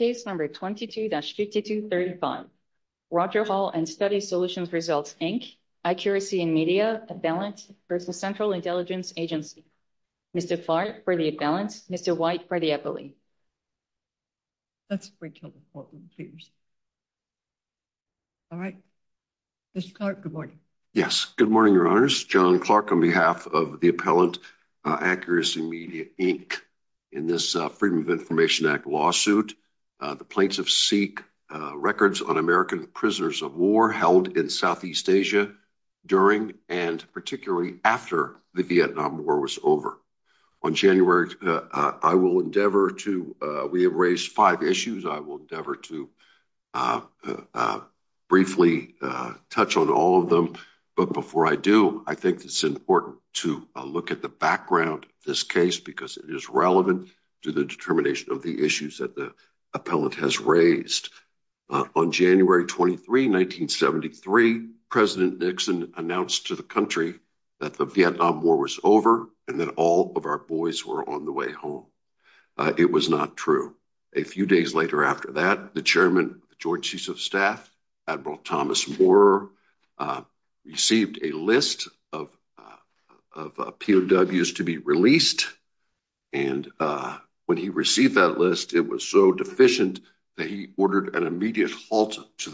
22-5235 Roger Hall and Study Solutions Results, Inc., Accuracy in Media, Appellant v. Central Intelligence Agency Mr. Clark for the Appellant, Mr. White for the Appellee Mr. Clark, good morning. Yes, good morning, Your Honors. John Clark, on behalf of the Appellant, Accuracy in Media, Inc., in this Freedom of Information Act lawsuit, the plaintiffs seek records on American prisoners of war held in Southeast Asia during and particularly after the Vietnam War was over. On January, I will endeavor to, we have raised five issues, I will endeavor to briefly touch on all of them, but before I do, I think it's important to look at the background of this case because it is relevant to the determination of the issues that the Appellant has raised. On January 23, 1973, President Nixon announced to the country that the Vietnam War was over and that all of our boys were on the way home. It was not true. A few days later after that, the Chairman, the Joint Chiefs of Staff, Admiral Thomas Moore, received a list of POWs to be released, and when he received that list, it was so deficient that he ordered an immediate halt to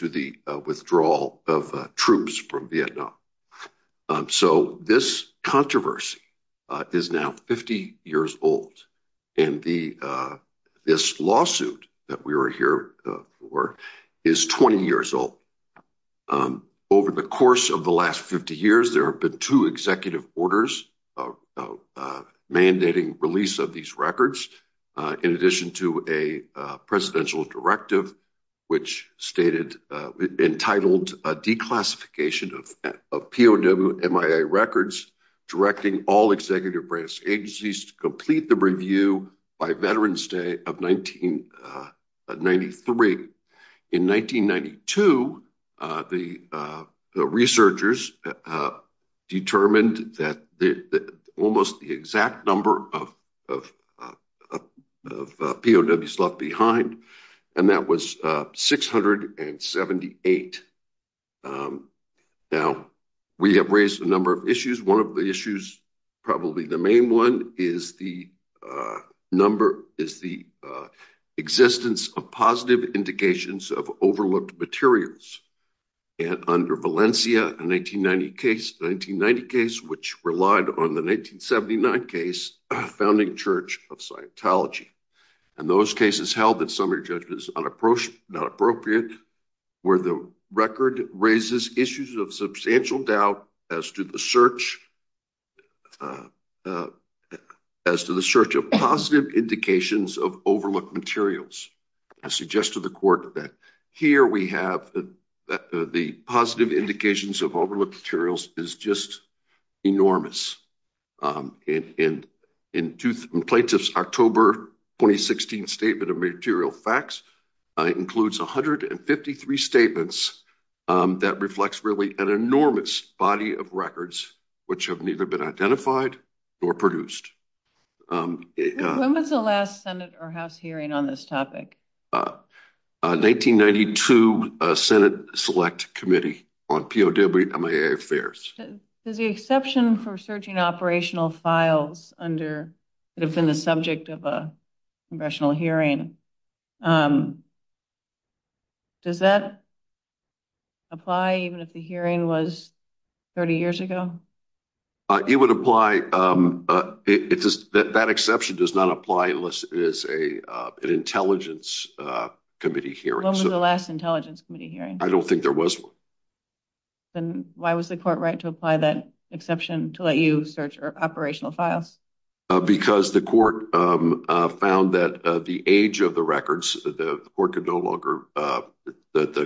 the withdrawal of troops from Vietnam. So this controversy is now 50 years old, and this lawsuit that we are here for is 20 years old. Over the course of the last 50 years, there have been two executive orders mandating release of these records, in addition to a presidential directive, which stated, entitled a declassification of POW-MIA records, directing all executive branch agencies to complete the review by Veterans Day of 1993. In 1992, the researchers determined that almost the exact number of POWs left behind, and that was 678. Now, we have raised a number of issues. One of the issues, probably the main one, is the existence of positive indications of overlooked materials. Under Valencia, a 1990 case, which relied on the 1979 case, Founding Church of Scientology, and those cases held that summary judgment is not appropriate, where the record raises issues of substantial doubt as to the search of positive indications of overlooked materials. I suggested to the court that here we have the positive indications of overlooked materials is just enormous. In plaintiff's October 2016 statement of material facts, it includes 153 statements that reflects really an enormous body of records, which have been identified or produced. When was the last Senate or House hearing on this topic? 1992 Senate Select Committee on POW-MIA Affairs. There's the exception for searching operational files that have been the subject of a congressional hearing. Does that apply even if the hearing was 30 years ago? It would apply. That exception does not apply unless it is an Intelligence Committee hearing. When was the last Intelligence Committee hearing? I don't think there was one. Then why was the court right to apply that exception to let you search operational files? Because the court found that the age of the records, the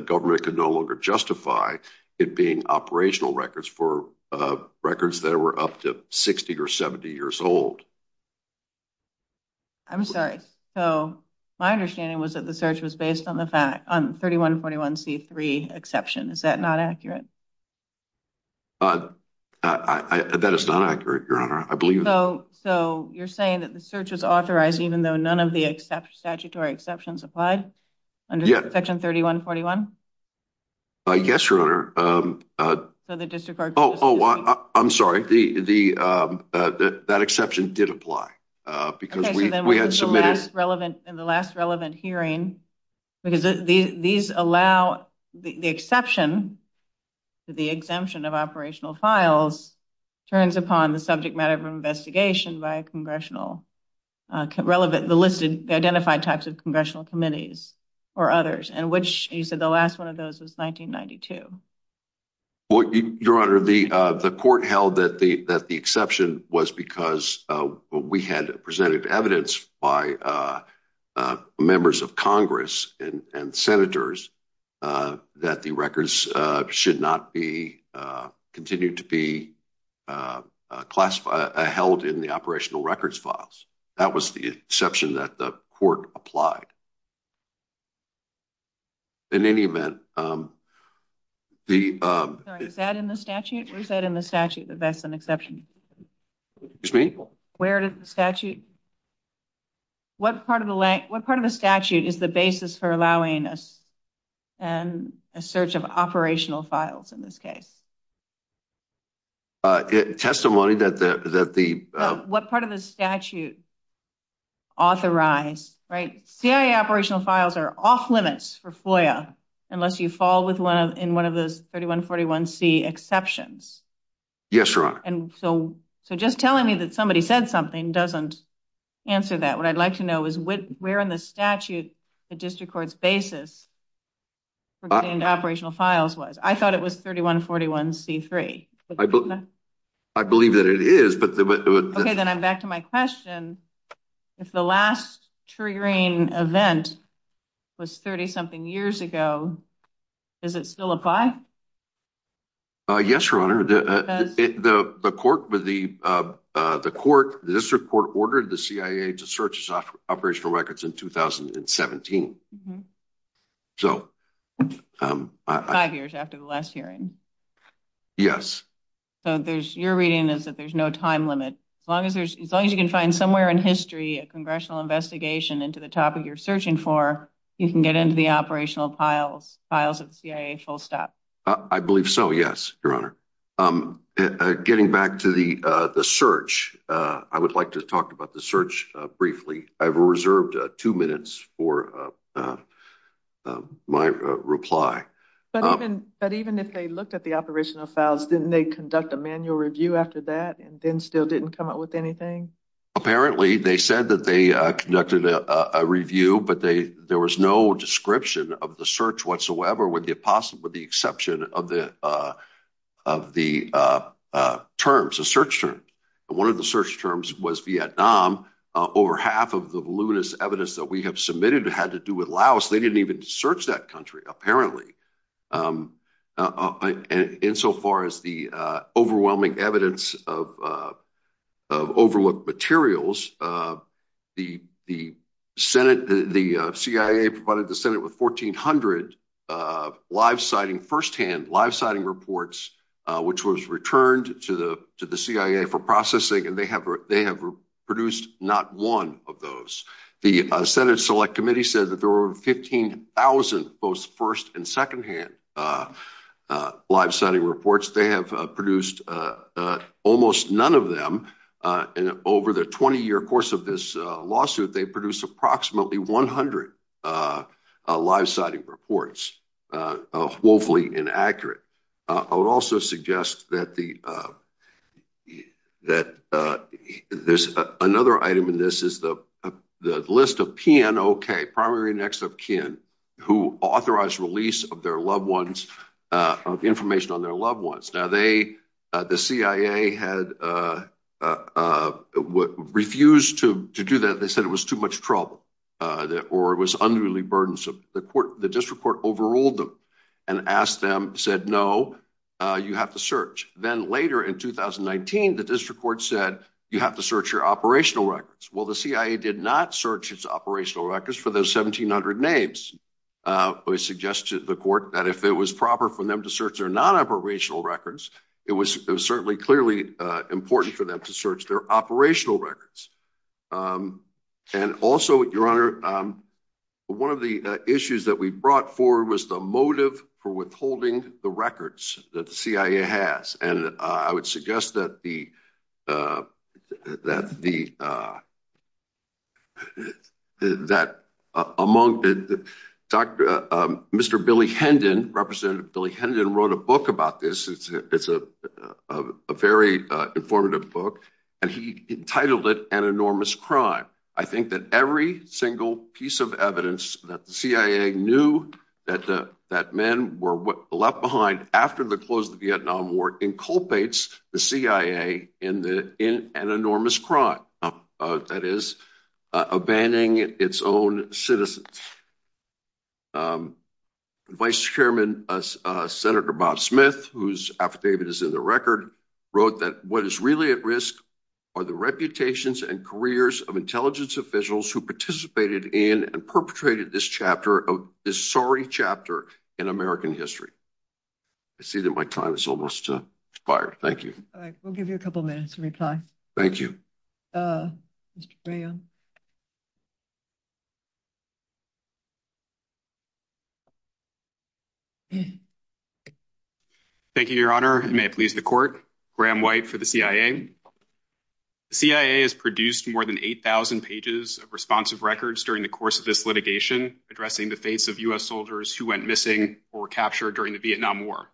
government could no longer justify it being operational records for records that were up to 60 or 70 years old. I'm sorry. My understanding was that the search was based on the 3141c3 exception. Is that not accurate? That is not accurate, Your Honor. I believe that. So you're saying that the search was authorized even though none of the statutory exceptions applied under Section 3141? Yes, Your Honor. I'm sorry. That exception did apply. In the last relevant hearing, the exception of operational files turns upon the subject of congressional committees or others. You said the last one of those was 1992. Your Honor, the court held that the exception was because we had presented evidence by members of Congress and Senators that the records should not continue to be classified, held in the operational records files. That was the exception that the court applied. In any event, the... Sorry. Is that in the statute? Where is that in the statute that that's an exception? Excuse me? Where did the statute... What part of the statute is the basis for allowing a search of operational files in this case? Testimony that the... What part of the statute authorized, right? CIA operational files are off-limits for FOIA unless you fall in one of those 3141c exceptions. Yes, Your Honor. And so just telling me that somebody said something doesn't answer that. What I'd like to know is where in the statute the district court's basis for getting operational files was. I thought it was 3141c3. I believe that it is, but... Okay, then I'm back to my question. If the last triggering event was 30-something years ago, does it still apply? Yes, Your Honor. The court... The district court ordered the CIA to search its operational records in 2017. So... After the last hearing? Yes. So there's... Your reading is that there's no time limit. As long as you can find somewhere in history a congressional investigation into the topic you're searching for, you can get into the operational files of the CIA full stop. I believe so, yes, Your Honor. Getting back to the search, I would like to talk about the search briefly. I've reserved two minutes for my reply. But even if they looked at the operational files, didn't they conduct a manual review after that and then still didn't come up with anything? Apparently, they said that they conducted a review, but there was no description of the search whatsoever with the exception of the terms, the search terms. One of the search terms was Vietnam. Over half of the voluminous evidence that we have submitted had to do with Laos. They didn't even search that country, apparently. Insofar as the overwhelming evidence of overlooked materials, the CIA provided the Senate with 1,400 firsthand live-sighting reports, which was returned to the CIA for processing, and they have produced not one of those. The Senate Select Committee said that there were 15,000 both first and secondhand live-sighting reports. They have produced almost none of them. Over the 20-year course of this lawsuit, they produced approximately 100 live-sighting reports, woefully inaccurate. I would also suggest that there's another item in this is the list of PNOK, primary and ex-of-kin, who authorized release of information on their loved ones. Now, the CIA had refused to do that. They said it was too much trouble or it was unruly burdensome. The district court overruled them and asked them, said, no, you have to search. Then later in 2019, the district court said, you have to search your operational records. Well, the CIA did not search its operational records for those 1,700 names. I would suggest to the court that if it was proper for them to search their non-operational records, it was certainly clearly important for them to search their operational records. And also, Your Honor, one of the issues that we brought forward was the motive for withholding the records that the CIA has. And I would suggest that the, that among the, Dr., Mr. Billy Hendon, Representative Billy Hendon wrote a book about this. It's a very informative book, and he entitled it An Enormous Crime. I think that every single piece of evidence that the CIA knew that men were left behind after the close of the Vietnam War inculpates the CIA in an enormous crime, that is, abandoning its own citizens. Vice Chairman Senator Bob Smith, whose affidavit is in the record, wrote that what is really at risk are the reputations and careers of intelligence officials who participated in and perpetrated this chapter of, this sorry chapter in American history. I see that my time is almost expired. Thank you. All right. We'll give you a couple minutes to reply. Thank you. Mr. Graham? Thank you, Your Honor, and may it please the Court. Graham White for the CIA. The CIA has produced more than 8,000 pages of responsive records during the course of this litigation addressing the fates of U.S. soldiers who went missing or were captured during the Vietnam War.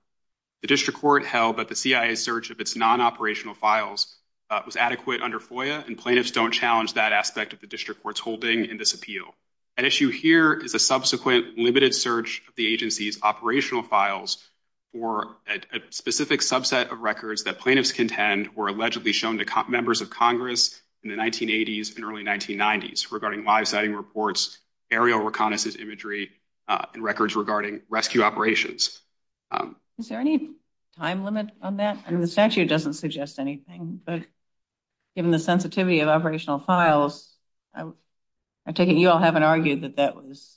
The District Court held that the CIA's search of its non-operational files was adequate under FOIA, and plaintiffs don't challenge that aspect of the investigation. District Court's holding in this appeal. At issue here is a subsequent limited search of the agency's operational files for a specific subset of records that plaintiffs contend were allegedly shown to members of Congress in the 1980s and early 1990s regarding live sighting reports, aerial reconnaissance imagery, and records regarding rescue operations. Is there any time limit on that? I mean, the statute doesn't suggest anything, but given the sensitivity of operational files, I take it you all haven't argued that that was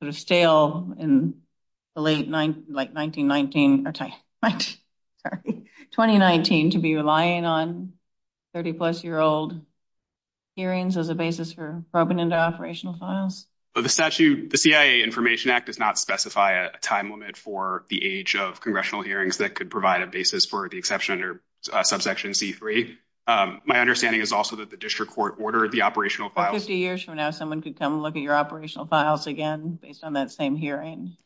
sort of stale in the late 19, like 1919, or sorry, 2019, to be relying on 30-plus-year-old hearings as a basis for probing into operational files? Well, the statute, the CIA Information Act does not specify a time limit for the age of congressional hearings that could provide a basis for the exception under subsection C-3. My understanding is also that the District Court ordered the operational files. Well, 50 years from now, someone could come look at your operational files again based on that same hearing.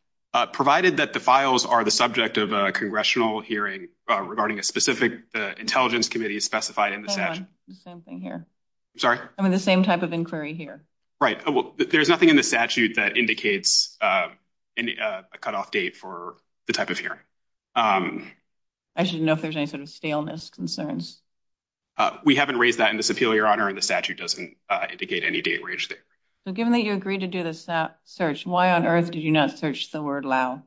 Provided that the files are the subject of a congressional hearing regarding a specific intelligence committee specified in the statute. The same thing here. I'm sorry? I mean, the same type of inquiry here. Right. Well, there's nothing in the statute that indicates a cutoff date for the type of hearing. I just didn't know if there's any sort of staleness concerns. We haven't raised that in this appeal, Your Honor, and the statute doesn't indicate any date range there. So given that you agreed to do this search, why on earth did you not search the word Lao?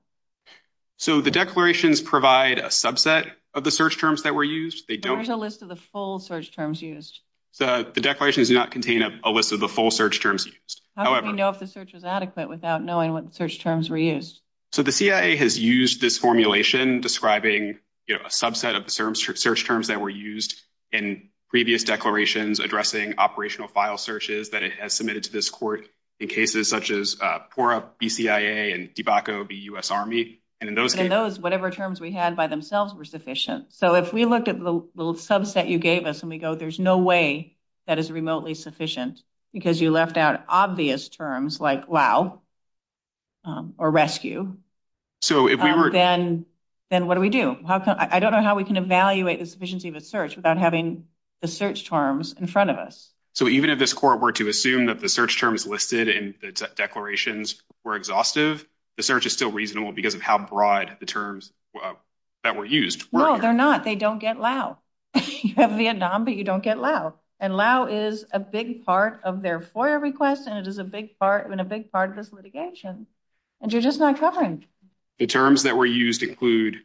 So the declarations provide a subset of the search terms that were used. There's a list of the full search terms used. So the declarations do not contain a list of the full search terms used. How would we know if the search was adequate without knowing what search terms were used? So the CIA has used this formulation describing a subset of the search terms that were used in previous declarations addressing operational file searches that it has submitted to this court in cases such as PORRA, BCIA, and DBACO v. U.S. Army. And in those cases, whatever terms we had by themselves were sufficient. So if we looked at the little subset you gave us and we go, there's no way that is remotely sufficient because you left out obvious terms like Lao or rescue, then what do we do? I don't know how we can evaluate the sufficiency of a search without having the search terms in front of us. So even if this court were to assume that the search terms listed in the declarations were exhaustive, the search is still reasonable because of how broad the terms that were used. No, they're not. They don't get Lao. You have Vietnam, but you don't get Lao. Lao is a big part of their FOIA request and it is a big part of this litigation. And you're just not covering. The terms that were used include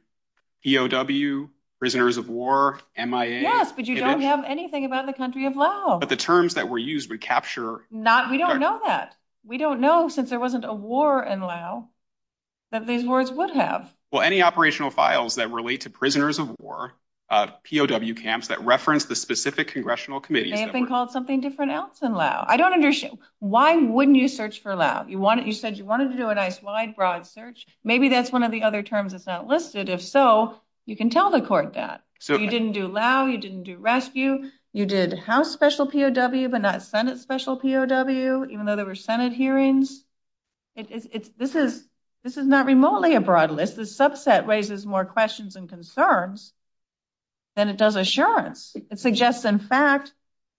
POW, prisoners of war, MIA. Yes, but you don't have anything about the country of Lao. But the terms that were used would capture- We don't know that. We don't know since there wasn't a war in Lao that these words would have. Well, any operational files that relate to prisoners of war, POW camps that reference the specific congressional committees- They have been called something different else in Lao. I don't understand. Why wouldn't you search for Lao? You said you wanted to do a nice wide, broad search. Maybe that's one of the other terms that's not listed. If so, you can tell the court that. So you didn't do Lao. You didn't do rescue. You did House special POW, but not Senate special POW, even though there were Senate hearings. This is not remotely a broad list. This subset raises more questions and concerns. Then it does assurance. It suggests, in fact,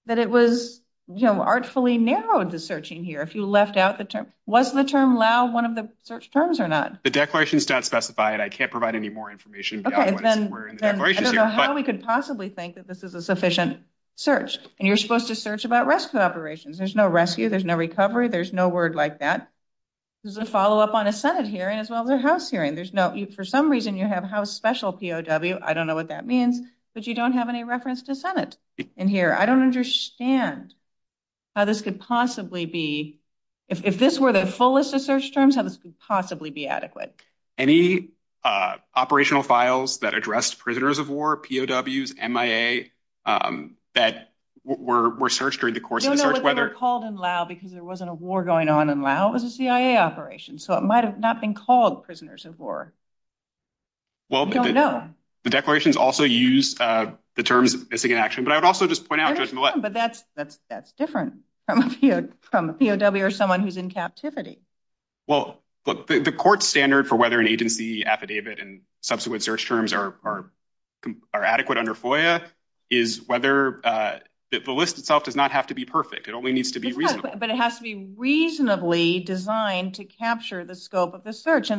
that it was artfully narrowed, the searching here, if you left out the term. Was the term Lao one of the search terms or not? The declaration is not specified. I can't provide any more information. Okay, then I don't know how we could possibly think that this is a sufficient search. And you're supposed to search about rescue operations. There's no rescue. There's no recovery. There's no word like that. There's a follow-up on a Senate hearing as well as a House hearing. There's no- For some reason, you have House special POW. I don't know what that means, but you don't have any reference to Senate in here. I don't understand how this could possibly be, if this were the fullest of search terms, how this could possibly be adequate. Any operational files that addressed prisoners of war, POWs, MIA, that were searched during the course of the search, whether- No, no, they were called in Lao because there wasn't a war going on in Lao. It was a CIA operation, so it might have not been called prisoners of war. We don't know. Well, the declarations also use the terms missing in action, but I would also just point out- They're different, but that's different from a POW or someone who's in captivity. Well, look, the court standard for whether an agency affidavit and subsequent search terms are adequate under FOIA is whether- The list itself does not have to be perfect. It only needs to be reasonable. But it has to be reasonably designed to capture the scope of the search.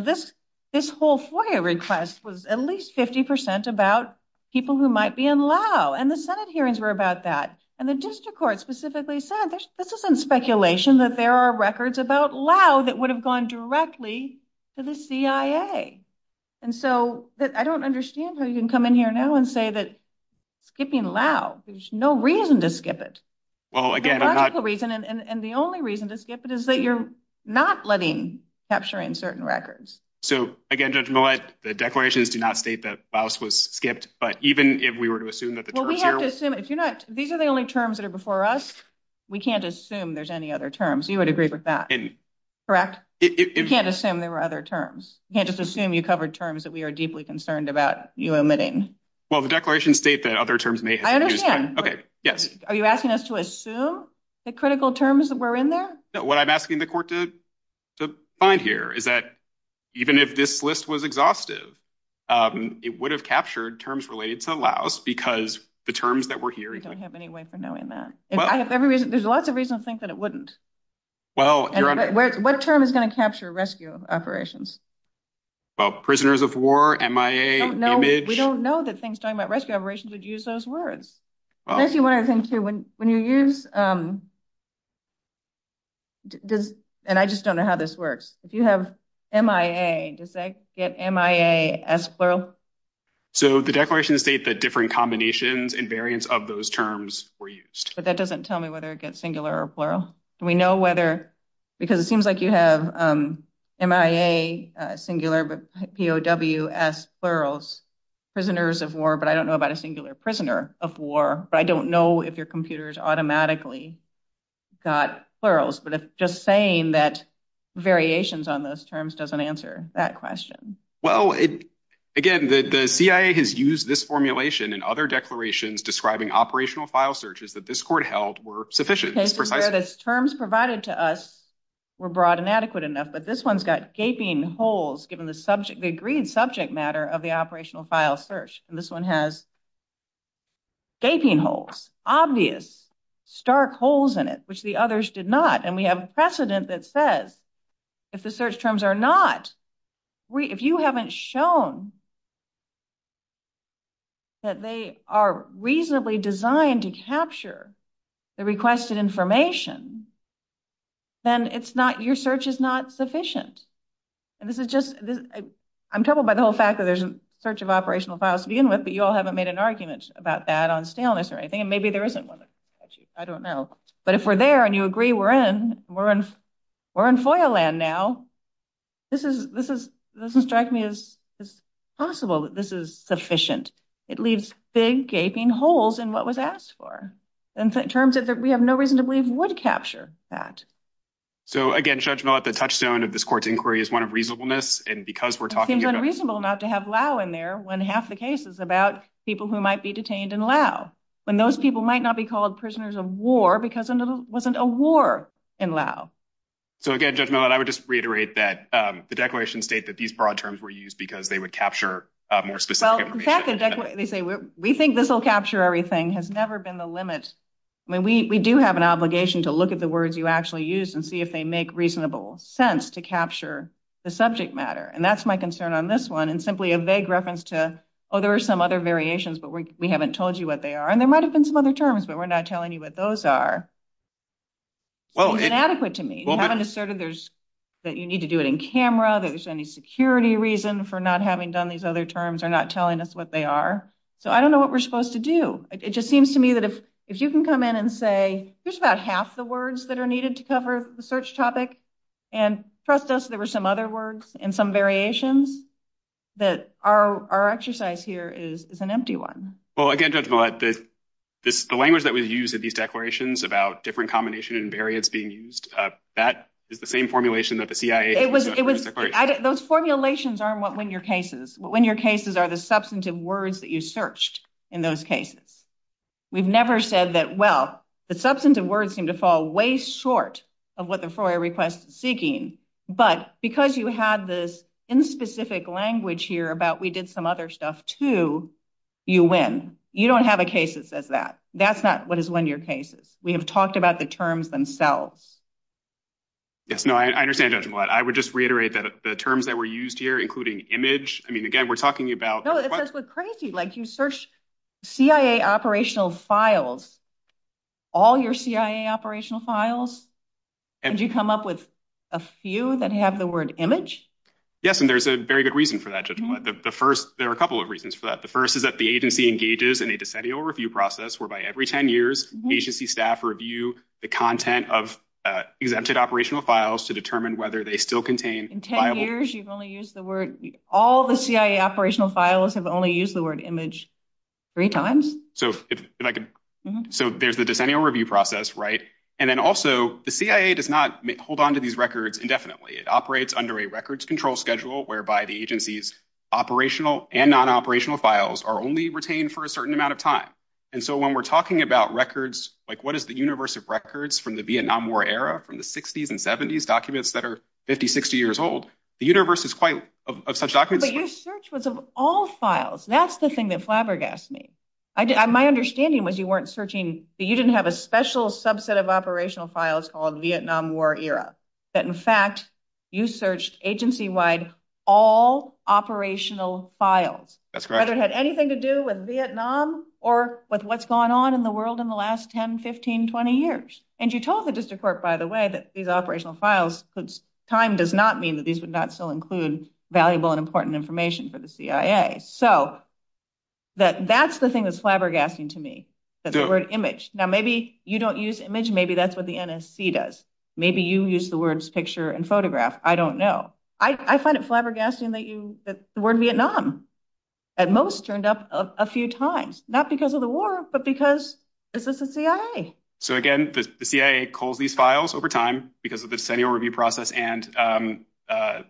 This whole FOIA request was at least 50% about people who might be in Lao, and the Senate hearings were about that. The district court specifically said, this isn't speculation that there are records about Lao that would have gone directly to the CIA. I don't understand how you can come in here now and say that skipping Lao, there's no reason to skip it. Well, again, I'm not- The logical reason and the only reason to skip it is that you're not letting capturing certain records. So again, Judge Millett, the declarations do not state that Laos was skipped, but even if we were to assume that the terms here- Well, we have to assume, if you're not- These are the only terms that are before us. We can't assume there's any other terms. You would agree with that, correct? You can't assume there were other terms. You can't just assume you covered terms that we are deeply concerned about you omitting. Well, the declarations state that other terms may have been used- Okay, yes. Are you asking us to assume the critical terms that were in there? No, what I'm asking the court to find here is that even if this list was exhaustive, it would have captured terms related to Laos because the terms that were here- I don't have any way for knowing that. There's lots of reasons to think that it wouldn't. What term is going to capture rescue operations? Well, prisoners of war, MIA, image. We don't know that things talking about rescue operations would use those words. Actually, one other thing too, when you use- And I just don't know how this works. If you have MIA, does that get MIA as plural? So the declarations state that different combinations and variants of those terms were used. But that doesn't tell me whether it gets singular or plural. Do we know whether- Because it seems like you have MIA singular, but POWS plurals. Prisoners of war, but I don't know about a singular prisoner of war. But I don't know if your computers automatically got plurals. But just saying that variations on those terms doesn't answer that question. Well, again, the CIA has used this formulation and other declarations describing operational file searches that this court held were sufficient. The cases where those terms provided to us were broad and adequate enough, this one's got gaping holes given the agreed subject matter of the operational file search. And this one has gaping holes, obvious stark holes in it, which the others did not. And we have precedent that says if the search terms are not- If you haven't shown that they are reasonably designed to capture the requested information, then it's not- Your search is not sufficient. And this is just- I'm troubled by the whole fact that there's a search of operational files to begin with, but you all haven't made an argument about that on staleness or anything. And maybe there isn't one. Actually, I don't know. But if we're there and you agree we're in, we're in FOIA land now. This is- This is- This has struck me as possible that this is sufficient. It leaves big gaping holes in what was asked for. In terms of that we have no reason to believe would capture that. So again, Judge Millett, the touchstone of this court's inquiry is one of reasonableness. And because we're talking about- It seems unreasonable not to have Lau in there when half the case is about people who might be detained in Lau. When those people might not be called prisoners of war because it wasn't a war in Lau. So again, Judge Millett, I would just reiterate that the declarations state that these broad terms were used because they would capture more specific information. Well, in fact, they say we think this will capture everything. Has never been the limit. I mean, we do have an obligation to look at the words you actually use and see if they make reasonable sense to capture the subject matter. And that's my concern on this one. And simply a vague reference to, oh, there are some other variations, but we haven't told you what they are. And there might have been some other terms, but we're not telling you what those are. Well- It's inadequate to me. You haven't asserted there's- that you need to do it in camera, that there's any security reason for not having done these other terms or not telling us what they are. So I don't know what we're supposed to do. It just seems to me that if you can come in and say, here's about half the words that are needed to cover the search topic and trust us, there were some other words and some variations, that our exercise here is an empty one. Well, again, Judge Millett, the language that was used in these declarations about different combination and variants being used, that is the same formulation that the CIA- It was- Those formulations aren't what win your cases. What win your cases are the substantive words that you searched in those cases. We've never said that, well, the substantive words seem to fall way short of what the FOIA request is seeking. But because you had this in-specific language here about we did some other stuff too, you win. You don't have a case that says that. That's not what is win your cases. We have talked about the terms themselves. Yes, no, I understand, Judge Millett. I would just reiterate that the terms that were used here, including image, I mean, again, we're talking about- No, that's what's crazy. You search CIA operational files, all your CIA operational files, and you come up with a few that have the word image? Yes, and there's a very good reason for that, Judge Millett. The first, there are a couple of reasons for that. The first is that the agency engages in a decennial review process, whereby every 10 years, agency staff review the content of exempted operational files to determine whether they still contain viable- In 10 years, you've only used the word, all the CIA operational files have only used the word image three times? So there's the decennial review process, right? And then also, the CIA does not hold onto these records indefinitely. It operates under a records control schedule whereby the agency's operational and non-operational files are only retained for a certain amount of time. And so when we're talking about records, like what is the universe of records from the Vietnam War era, from the 60s and 70s, documents that are 50, 60 years old, the universe is quite of such documents- But your search was of all files. That's the thing that flabbergasted me. My understanding was you weren't searching, you didn't have a special subset of operational files called Vietnam War era, that in fact, you searched agency-wide all operational files. That's correct. Whether it had anything to do with Vietnam or with what's going on in the world in the last 10, 15, 20 years. And you told the district court, by the way, that these operational files, time does not mean that these would not still include valuable and important information for the CIA. So that's the thing that's flabbergasting to me. That's the word image. Now, maybe you don't use image. Maybe that's what the NSC does. Maybe you use the words picture and photograph. I don't know. I find it flabbergasting that the word Vietnam at most turned up a few times, not because of the war, but because this is the CIA. So again, the CIA calls these files over time because of the decennial review process and the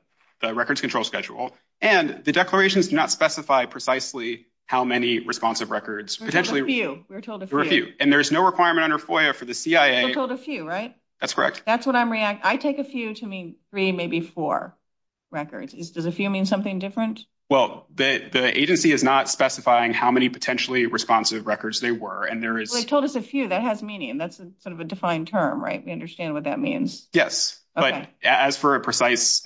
records control schedule. And the declarations do not specify precisely how many responsive records. We were told a few. And there's no requirement under FOIA for the CIA. We were told a few, right? That's correct. That's what I'm reacting. I take a few to mean three, maybe four records. Does a few mean something different? Well, the agency is not specifying how many potentially responsive records they were. Well, they told us a few. That has meaning. That's sort of a defined term, right? We understand what that means. But as for a precise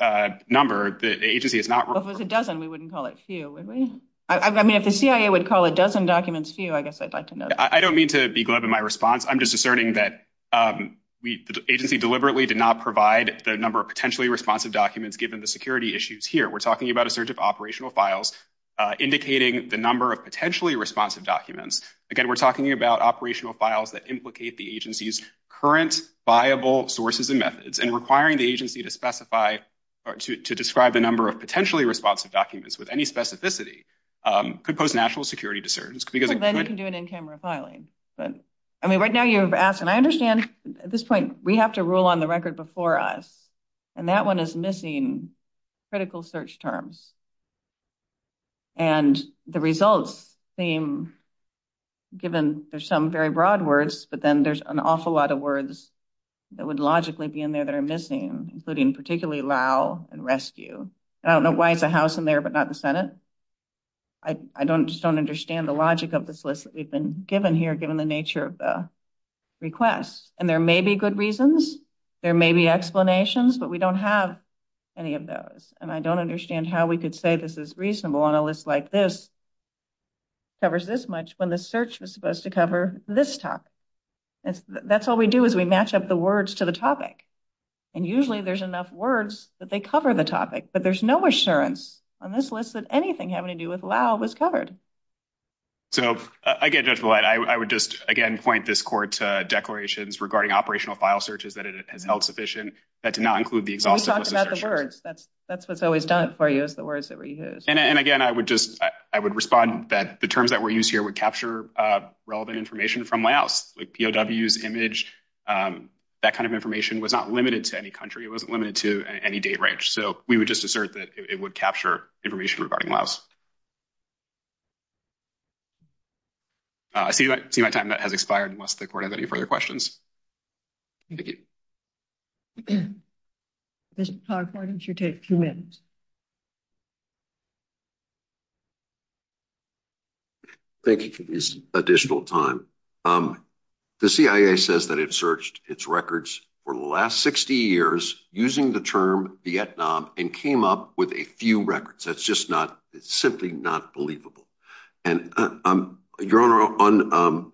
number, the agency is not— Well, if it was a dozen, we wouldn't call it few, would we? I mean, if the CIA would call a dozen documents few, I guess I'd like to know. I don't mean to be glib in my response. I'm just asserting that the agency deliberately did not provide the number of potentially responsive documents given the security issues here. We're talking about a surge of operational files indicating the number of potentially responsive documents. Again, we're talking about operational files that implicate the agency's current viable sources and methods. And requiring the agency to specify or to describe the number of potentially responsive documents with any specificity could pose national security concerns because— Well, then you can do an in-camera filing. I mean, right now you've asked, and I understand at this point we have to rule on the record before us, and that one is missing critical search terms. And the results seem—given there's some very broad words, but then there's an awful lot of words that would logically be in there that are missing, including particularly LOW and RESCUE. I don't know why it's a house in there, but not the Senate. I just don't understand the logic of this list that we've been given here, given the nature of the requests. And there may be good reasons, there may be explanations, but we don't have any of those. And I don't understand how we could say this is reasonable on a list like this, covers this much, when the search was supposed to cover this top. That's all we do is we match up the words to the topic. And usually there's enough words that they cover the topic, but there's no assurance on this list that anything having to do with LOW was covered. So, again, Judge Belight, I would just, again, point this court to declarations regarding operational file searches that it has held sufficient that do not include the exhaustive list of searches. That's what's always done for you is the words that were used. And again, I would just, I would respond that the terms that were used here would capture relevant information from LOWs, like POWs, image, that kind of information was not limited to any country. It wasn't limited to any date range. So we would just assert that it would capture information regarding LOWs. I see my time has expired unless the court has any further questions. Thank you. Thank you for this additional time. The CIA says that it searched its records for the last 60 years using the term Vietnam and came up with a few records. That's just not, it's simply not believable. And Your Honor,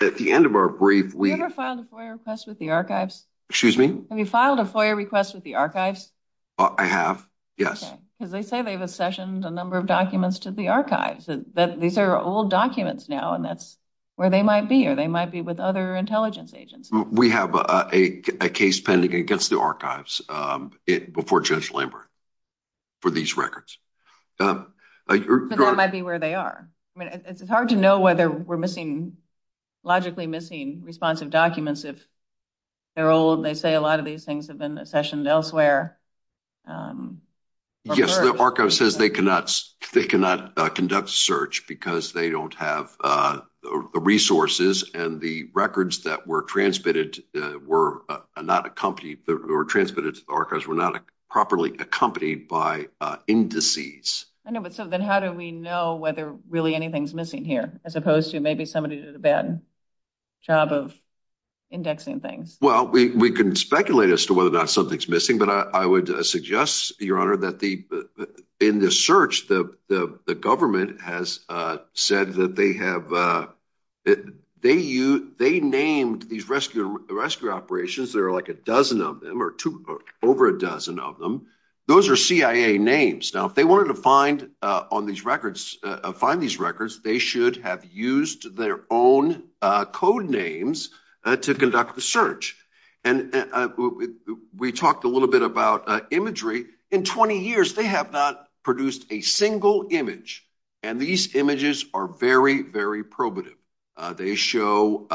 at the end of our brief, we- Have you ever filed a FOIA request with the archives? Excuse me? Have you filed a FOIA request with the archives? I have. Yes. Because they say they've accessioned a number of documents to the archives, that these are old documents now, and that's where they might be, or they might be with other intelligence agents. We have a case pending against the archives before Judge Lambert for these records. But that might be where they are. I mean, it's hard to know whether we're missing, logically missing responsive documents if they're old. They say a lot of these things have been accessioned elsewhere. Yes, the archives says they cannot conduct a search because they don't have the resources and the records that were transmitted to the archives were not properly accompanied by indices. I know, but so then how do we know whether really anything's missing here, as opposed to maybe somebody did a bad job of indexing things? Well, we can speculate as to whether or not something's missing, but I would suggest, Your Honor, that in the search, the government has said that they have- they named these rescue operations, there are like a dozen of them or over a dozen of them. Those are CIA names. Now, if they wanted to find these records, they should have used their own code names to conduct the search. And we talked a little bit about imagery. In 20 years, they have not produced a single image. And these images are very, very probative. They show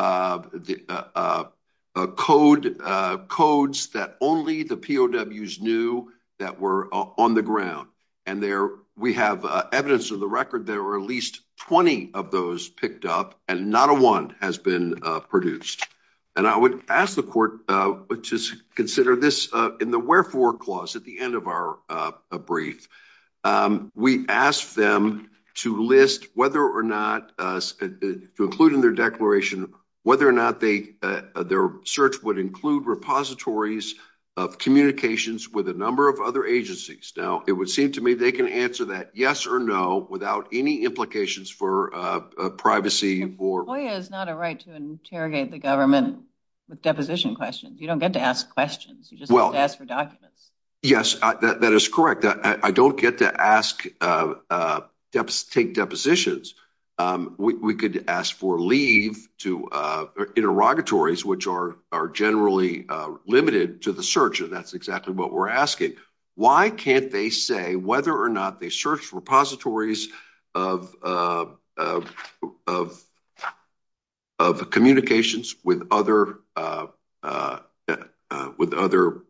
codes that only the POWs knew that were on the ground. And there we have evidence of the record, there were at least 20 of those picked up, and not a one has been produced. And I would ask the court to consider this in the wherefore clause at the end of our brief. We asked them to list whether or not- to include in their declaration whether or not they- their search would include repositories of communications with a number of other agencies. Now, it would seem to me they can answer that yes or no without any implications for privacy or- FOIA is not a right to interrogate the government with deposition questions. You don't get to ask questions, you just get to ask for documents. Yes, that is correct. I don't get to ask- take depositions. We could ask for leave to interrogatories, which are generally limited to the search, and that's exactly what we're asking. Why can't they say whether or not they search repositories of- of- of communications with other- with other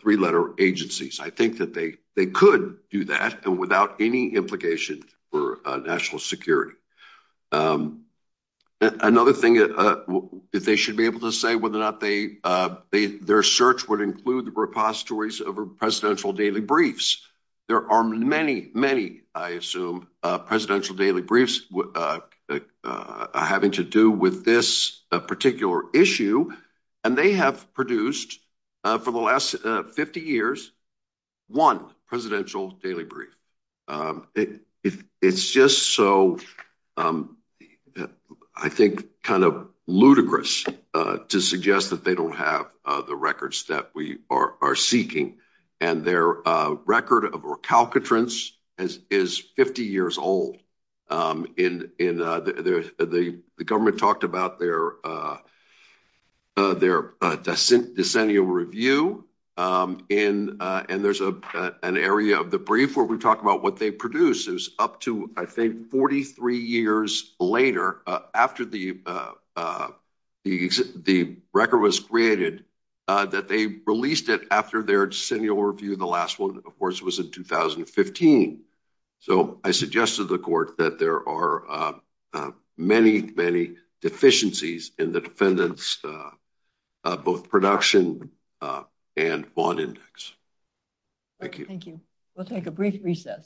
three-letter agencies? I think that they- they could do that and without any implication for national security. Another thing that- that they should be able to say whether or not they- their search would include the repositories of presidential daily briefs. There are many, many, I assume, presidential daily briefs that are having to do with this particular issue. And they have produced, for the last 50 years, one presidential daily brief. It's just so, I think, kind of ludicrous to suggest that they don't have the records that we are- are seeking. And their record of recalcitrance is- is 50 years old. In- in- the- the- the government talked about their- their decennial review. In- and there's a- an area of the brief where we talk about what they produce is up to, I think, 43 years later, after the- the- the record was created, that they released it after their decennial review. The last one, of course, was in 2015. So, I suggested to the court that there are many, many deficiencies in the defendant's both production and bond index. Thank you. Thank you. We'll take a brief recess.